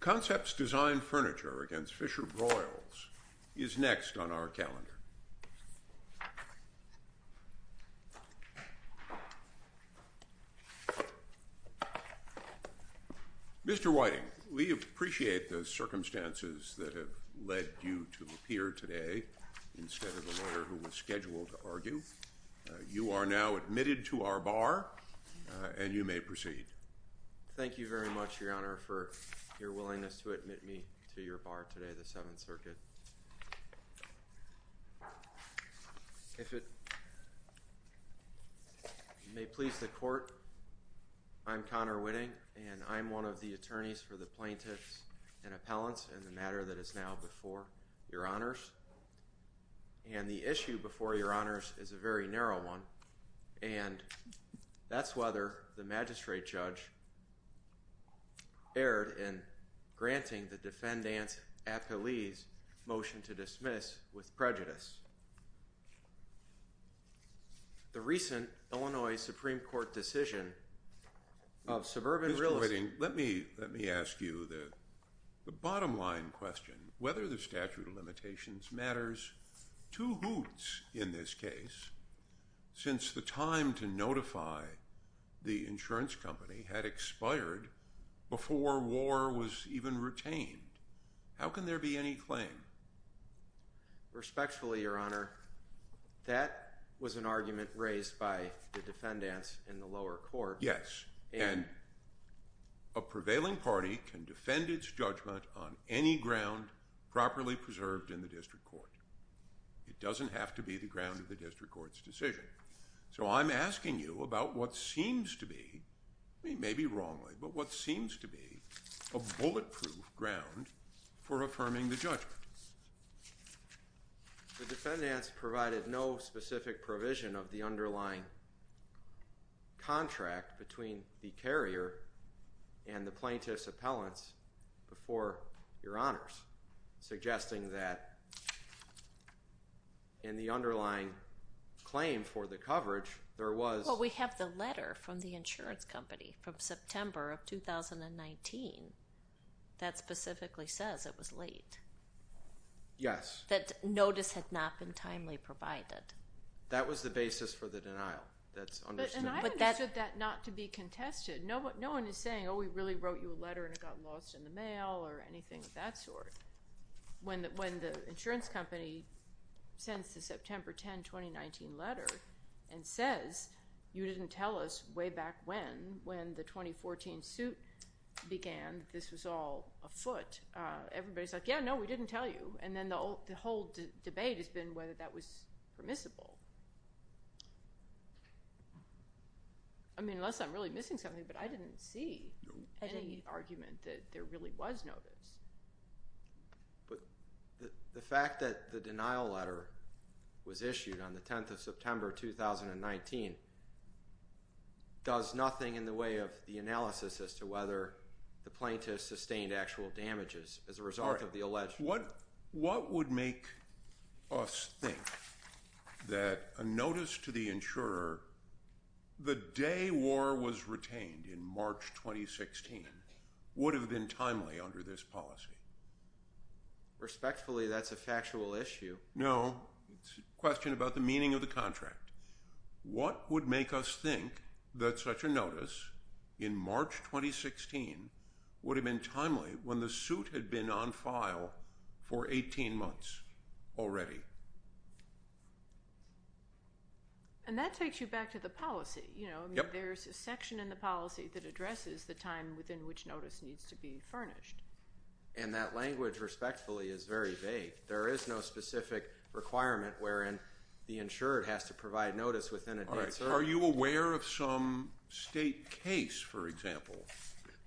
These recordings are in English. Concepts Design Furniture v. FisherBroyles is next on our calendar. Mr. Whiting, we appreciate the circumstances that have led you to appear today instead of the lawyer who was scheduled to argue. You are now admitted to our bar, and you may proceed. Thank you very much, Your Honor, for your willingness to admit me to your bar today, the Seventh Circuit. If it may please the Court, I'm Connor Whitting, and I'm one of the attorneys for the plaintiffs and appellants in the matter that is now before Your Honors. And the issue before Your Honors is a very narrow one, and that's whether the magistrate judge erred in granting the defendant's appellee's motion to dismiss with prejudice. The recent Illinois Supreme Court decision of suburban real estate... Mr. Whiting, let me ask you the bottom line question. Whether the statute of limitations matters two hoots in this case, since the time to notify the insurance company had expired before war was even retained. How can there be any claim? Respectfully, Your Honor, that was an argument raised by the defendants in the lower court. Yes, and a prevailing party can defend its judgment on any ground properly preserved in the district court. It doesn't have to be the ground of the district court's decision. So I'm asking you about what seems to be, maybe wrongly, but what seems to be a bulletproof ground for affirming the judgment. The defendants provided no specific provision of the underlying contract between the carrier and the plaintiff's appellants before Your Honors, suggesting that in the underlying claim for the coverage, there was... Well, we have the letter from the insurance company from September of 2019 that specifically says it was late. Yes. That notice had not been timely provided. That was the basis for the denial. And I understood that not to be contested. No one is saying, oh, we really wrote you a letter and it got lost in the mail or anything of that sort. When the insurance company sends the September 10, 2019 letter and says you didn't tell us way back when, when the 2014 suit began, this was all afoot. Everybody's like, yeah, no, we didn't tell you. And then the whole debate has been whether that was permissible. I mean, unless I'm really missing something, but I didn't see any argument that there really was notice. But the fact that the denial letter was issued on the 10th of September, 2019, does nothing in the way of the analysis as to whether the plaintiff sustained actual damages as a result of the alleged... What would make us think that a notice to the insurer the day war was retained in March 2016 would have been timely under this policy? Respectfully, that's a factual issue. No, it's a question about the meaning of the contract. What would make us think that such a notice in March 2016 would have been timely when the suit had been on file for 18 months already? And that takes you back to the policy. There's a section in the policy that addresses the time within which notice needs to be furnished. And that language, respectfully, is very vague. There is no specific requirement wherein the insurer has to provide notice within a date certain... Are you aware of some state case, for example,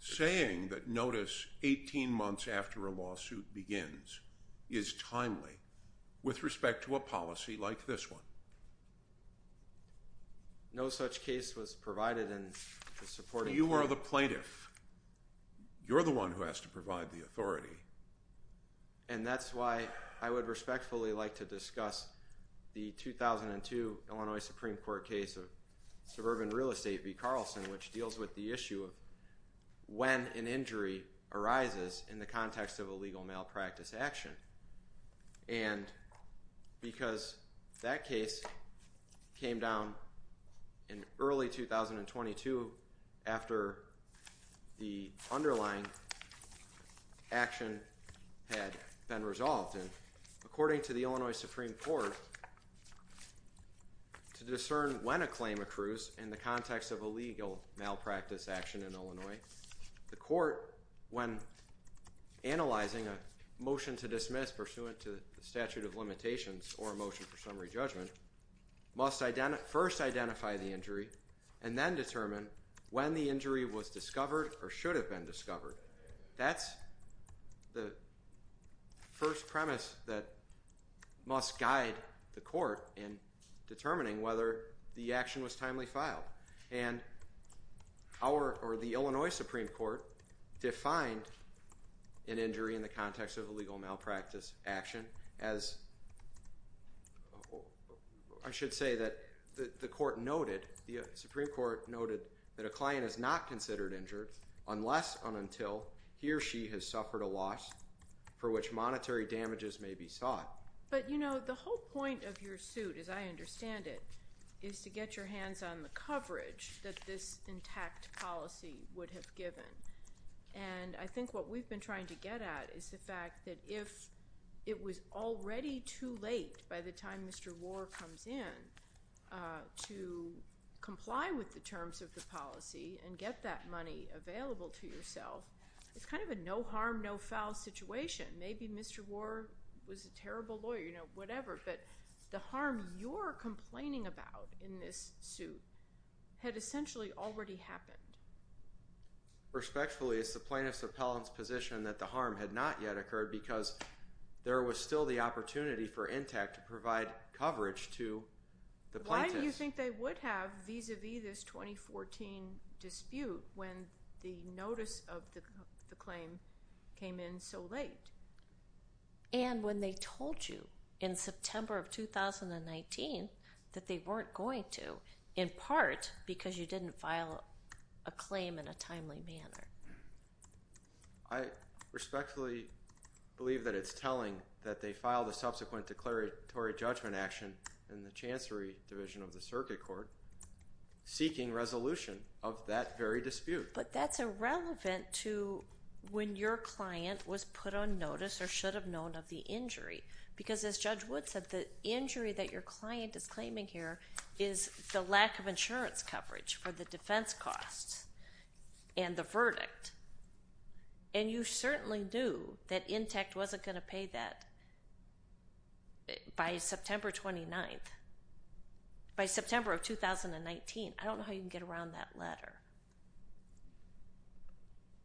saying that notice 18 months after a lawsuit begins is timely with respect to a policy like this one? No such case was provided in the supporting... You are the plaintiff. You're the one who has to provide the authority. And that's why I would respectfully like to discuss the 2002 Illinois Supreme Court case of suburban real estate v. Carlson, which deals with the issue of when an injury arises in the context of a legal malpractice action. And because that case came down in early 2022 after the underlying action had been resolved. And according to the Illinois Supreme Court, to discern when a claim accrues in the context of a legal malpractice action in Illinois, the court, when analyzing a motion to dismiss pursuant to the statute of limitations or a motion for summary judgment, must first identify the injury and then determine when the injury was discovered or should have been discovered. That's the first premise that must guide the court in determining whether the action was timely filed. And our, or the Illinois Supreme Court, defined an injury in the context of a legal malpractice action as, I should say that the court noted, the Supreme Court noted, that a client is not considered injured unless and until he or she has suffered a loss for which monetary damages may be sought. But, you know, the whole point of your suit, as I understand it, is to get your hands on the coverage that this intact policy would have given. And I think what we've been trying to get at is the fact that if it was already too late by the time Mr. Warr comes in to comply with the terms of the policy and get that money available to yourself, it's kind of a no harm, no foul situation. Maybe Mr. Warr was a terrible lawyer, you know, whatever, but the harm you're complaining about in this suit had essentially already happened. Respectfully, it's the plaintiff's appellant's position that the harm had not yet occurred because there was still the opportunity for Intact to provide coverage to the plaintiffs. How do you think they would have vis-à-vis this 2014 dispute when the notice of the claim came in so late? And when they told you in September of 2019 that they weren't going to, in part because you didn't file a claim in a timely manner. I respectfully believe that it's telling that they filed a subsequent declaratory judgment action in the Chancery Division of the Circuit Court seeking resolution of that very dispute. But that's irrelevant to when your client was put on notice or should have known of the injury. Because as Judge Wood said, the injury that your client is claiming here is the lack of insurance coverage for the defense costs and the verdict. And you certainly knew that Intact wasn't going to pay that by September 29th, by September of 2019. I don't know how you can get around that letter.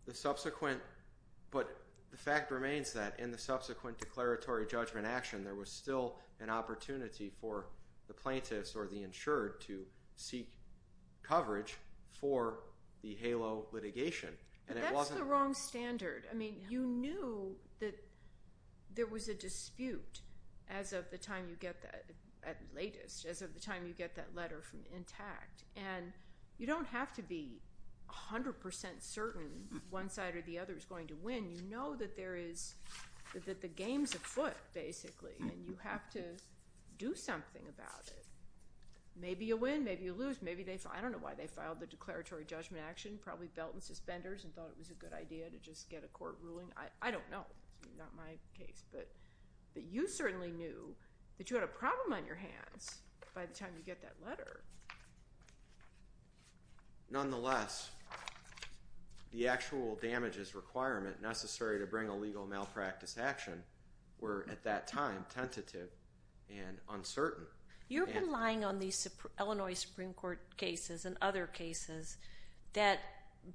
The subsequent, but the fact remains that in the subsequent declaratory judgment action, there was still an opportunity for the plaintiffs or the insured to seek coverage for the HALO litigation. But that's the wrong standard. I mean, you knew that there was a dispute as of the time you get that, at latest, as of the time you get that letter from Intact. And you don't have to be 100% certain one side or the other is going to win. You know that there is – that the game's afoot, basically, and you have to do something about it. Maybe you win, maybe you lose. I don't know why they filed the declaratory judgment action. Probably belt and suspenders and thought it was a good idea to just get a court ruling. I don't know. That's not my case. But you certainly knew that you had a problem on your hands by the time you get that letter. Nonetheless, the actual damages requirement necessary to bring a legal malpractice action were, at that time, tentative and uncertain. You're relying on these Illinois Supreme Court cases and other cases that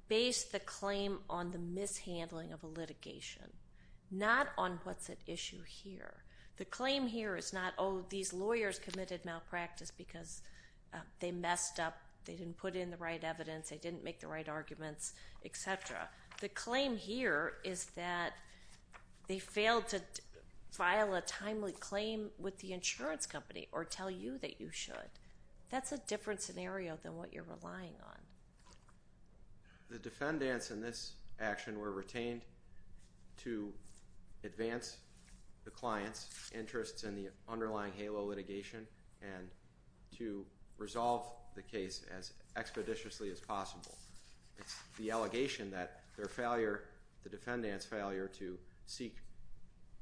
base the claim on the mishandling of a litigation, not on what's at issue here. The claim here is not, oh, these lawyers committed malpractice because they messed up, they didn't put in the right evidence, they didn't make the right arguments, et cetera. The claim here is that they failed to file a timely claim with the insurance company or tell you that you should. That's a different scenario than what you're relying on. The defendants in this action were retained to advance the client's interests in the underlying HALO litigation and to resolve the case as expeditiously as possible. The allegation that their failure, the defendant's failure to seek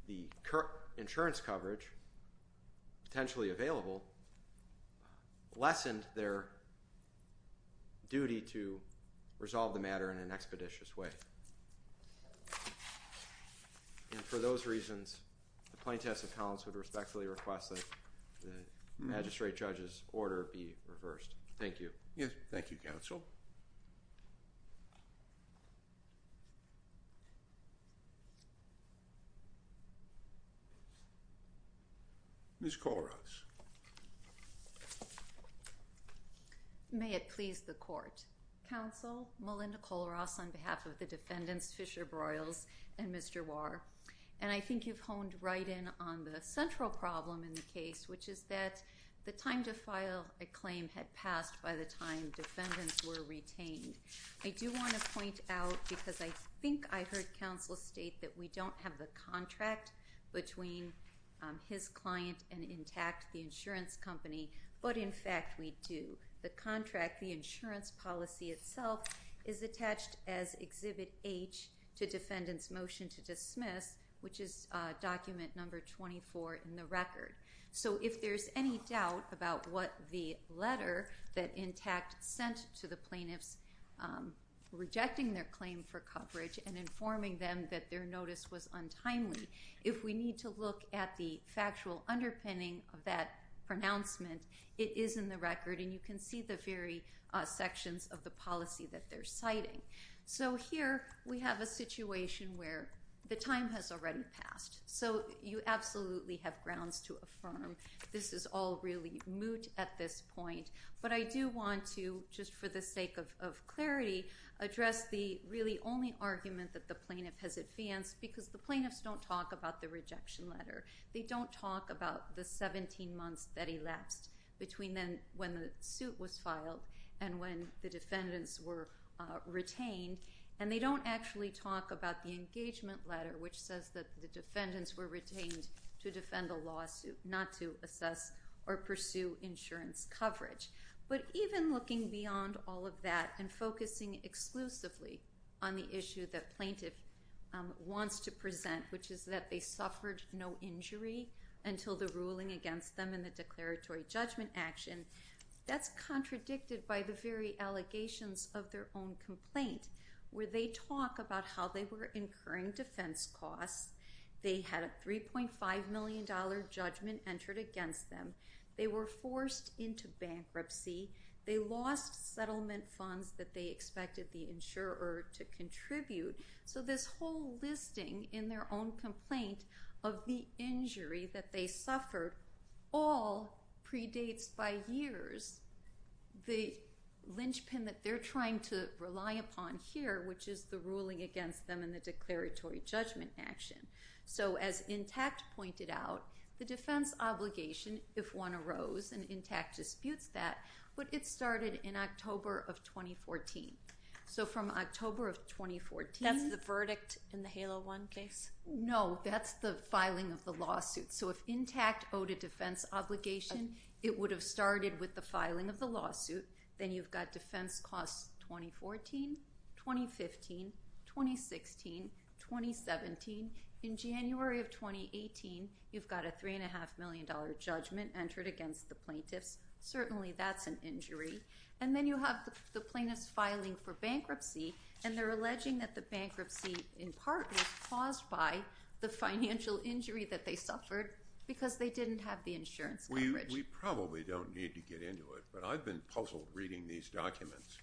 the insurance coverage potentially available, lessened their duty to resolve the matter in an expeditious way. And for those reasons, the plaintiffs accounts would respectfully request that the magistrate judge's order be reversed. Thank you. Yes, thank you, counsel. Ms. Kollross. May it please the court. Counsel, Melinda Kollross on behalf of the defendants, Fisher-Broyles and Mr. Warr. And I think you've honed right in on the central problem in the case, which is that the time to file a claim had passed by the time defendants were retained. I do want to point out, because I think I heard counsel state that we don't have the contract between his client and intact the insurance company, but in fact we do. The contract, the insurance policy itself, is attached as Exhibit H to defendant's motion to dismiss, which is document number 24 in the record. So if there's any doubt about what the letter that intact sent to the plaintiffs, rejecting their claim for coverage and informing them that their notice was untimely, if we need to look at the factual underpinning of that pronouncement, it is in the record, and you can see the very sections of the policy that they're citing. So here we have a situation where the time has already passed. So you absolutely have grounds to affirm this is all really moot at this point. But I do want to, just for the sake of clarity, address the really only argument that the plaintiff has advanced, because the plaintiffs don't talk about the rejection letter. They don't talk about the 17 months that elapsed between then when the suit was filed and when the defendants were retained, and they don't actually talk about the engagement letter, which says that the defendants were retained to defend the lawsuit, not to assess or pursue insurance coverage. But even looking beyond all of that and focusing exclusively on the issue that plaintiff wants to present, which is that they suffered no injury until the ruling against them in the declaratory judgment action, that's contradicted by the very allegations of their own complaint, where they talk about how they were incurring defense costs. They had a $3.5 million judgment entered against them. They were forced into bankruptcy. They lost settlement funds that they expected the insurer to contribute. So this whole listing in their own complaint of the injury that they suffered all predates by years. The linchpin that they're trying to rely upon here, which is the ruling against them in the declaratory judgment action. So as Intact pointed out, the defense obligation, if one arose, and Intact disputes that, but it started in October of 2014. So from October of 2014. That's the verdict in the HALO 1 case? No, that's the filing of the lawsuit. So if Intact owed a defense obligation, it would have started with the filing of the lawsuit. Then you've got defense costs 2014, 2015, 2016, 2017. In January of 2018, you've got a $3.5 million judgment entered against the plaintiffs. Certainly that's an injury. And then you have the plaintiffs filing for bankruptcy, and they're alleging that the bankruptcy in part was caused by the financial injury that they suffered because they didn't have the insurance coverage. We probably don't need to get into it, but I've been puzzled reading these documents.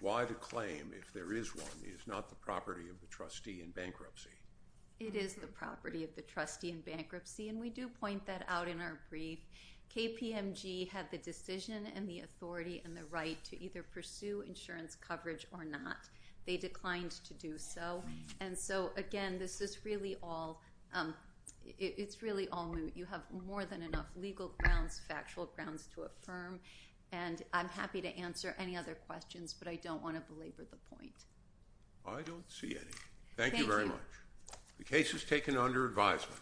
Why the claim, if there is one, is not the property of the trustee in bankruptcy? It is the property of the trustee in bankruptcy, and we do point that out in our brief. KPMG had the decision and the authority and the right to either pursue insurance coverage or not. They declined to do so. And so, again, this is really all – it's really all – you have more than enough legal grounds, factual grounds to affirm. And I'm happy to answer any other questions, but I don't want to belabor the point. I don't see any. Thank you very much. The case is taken under advisement.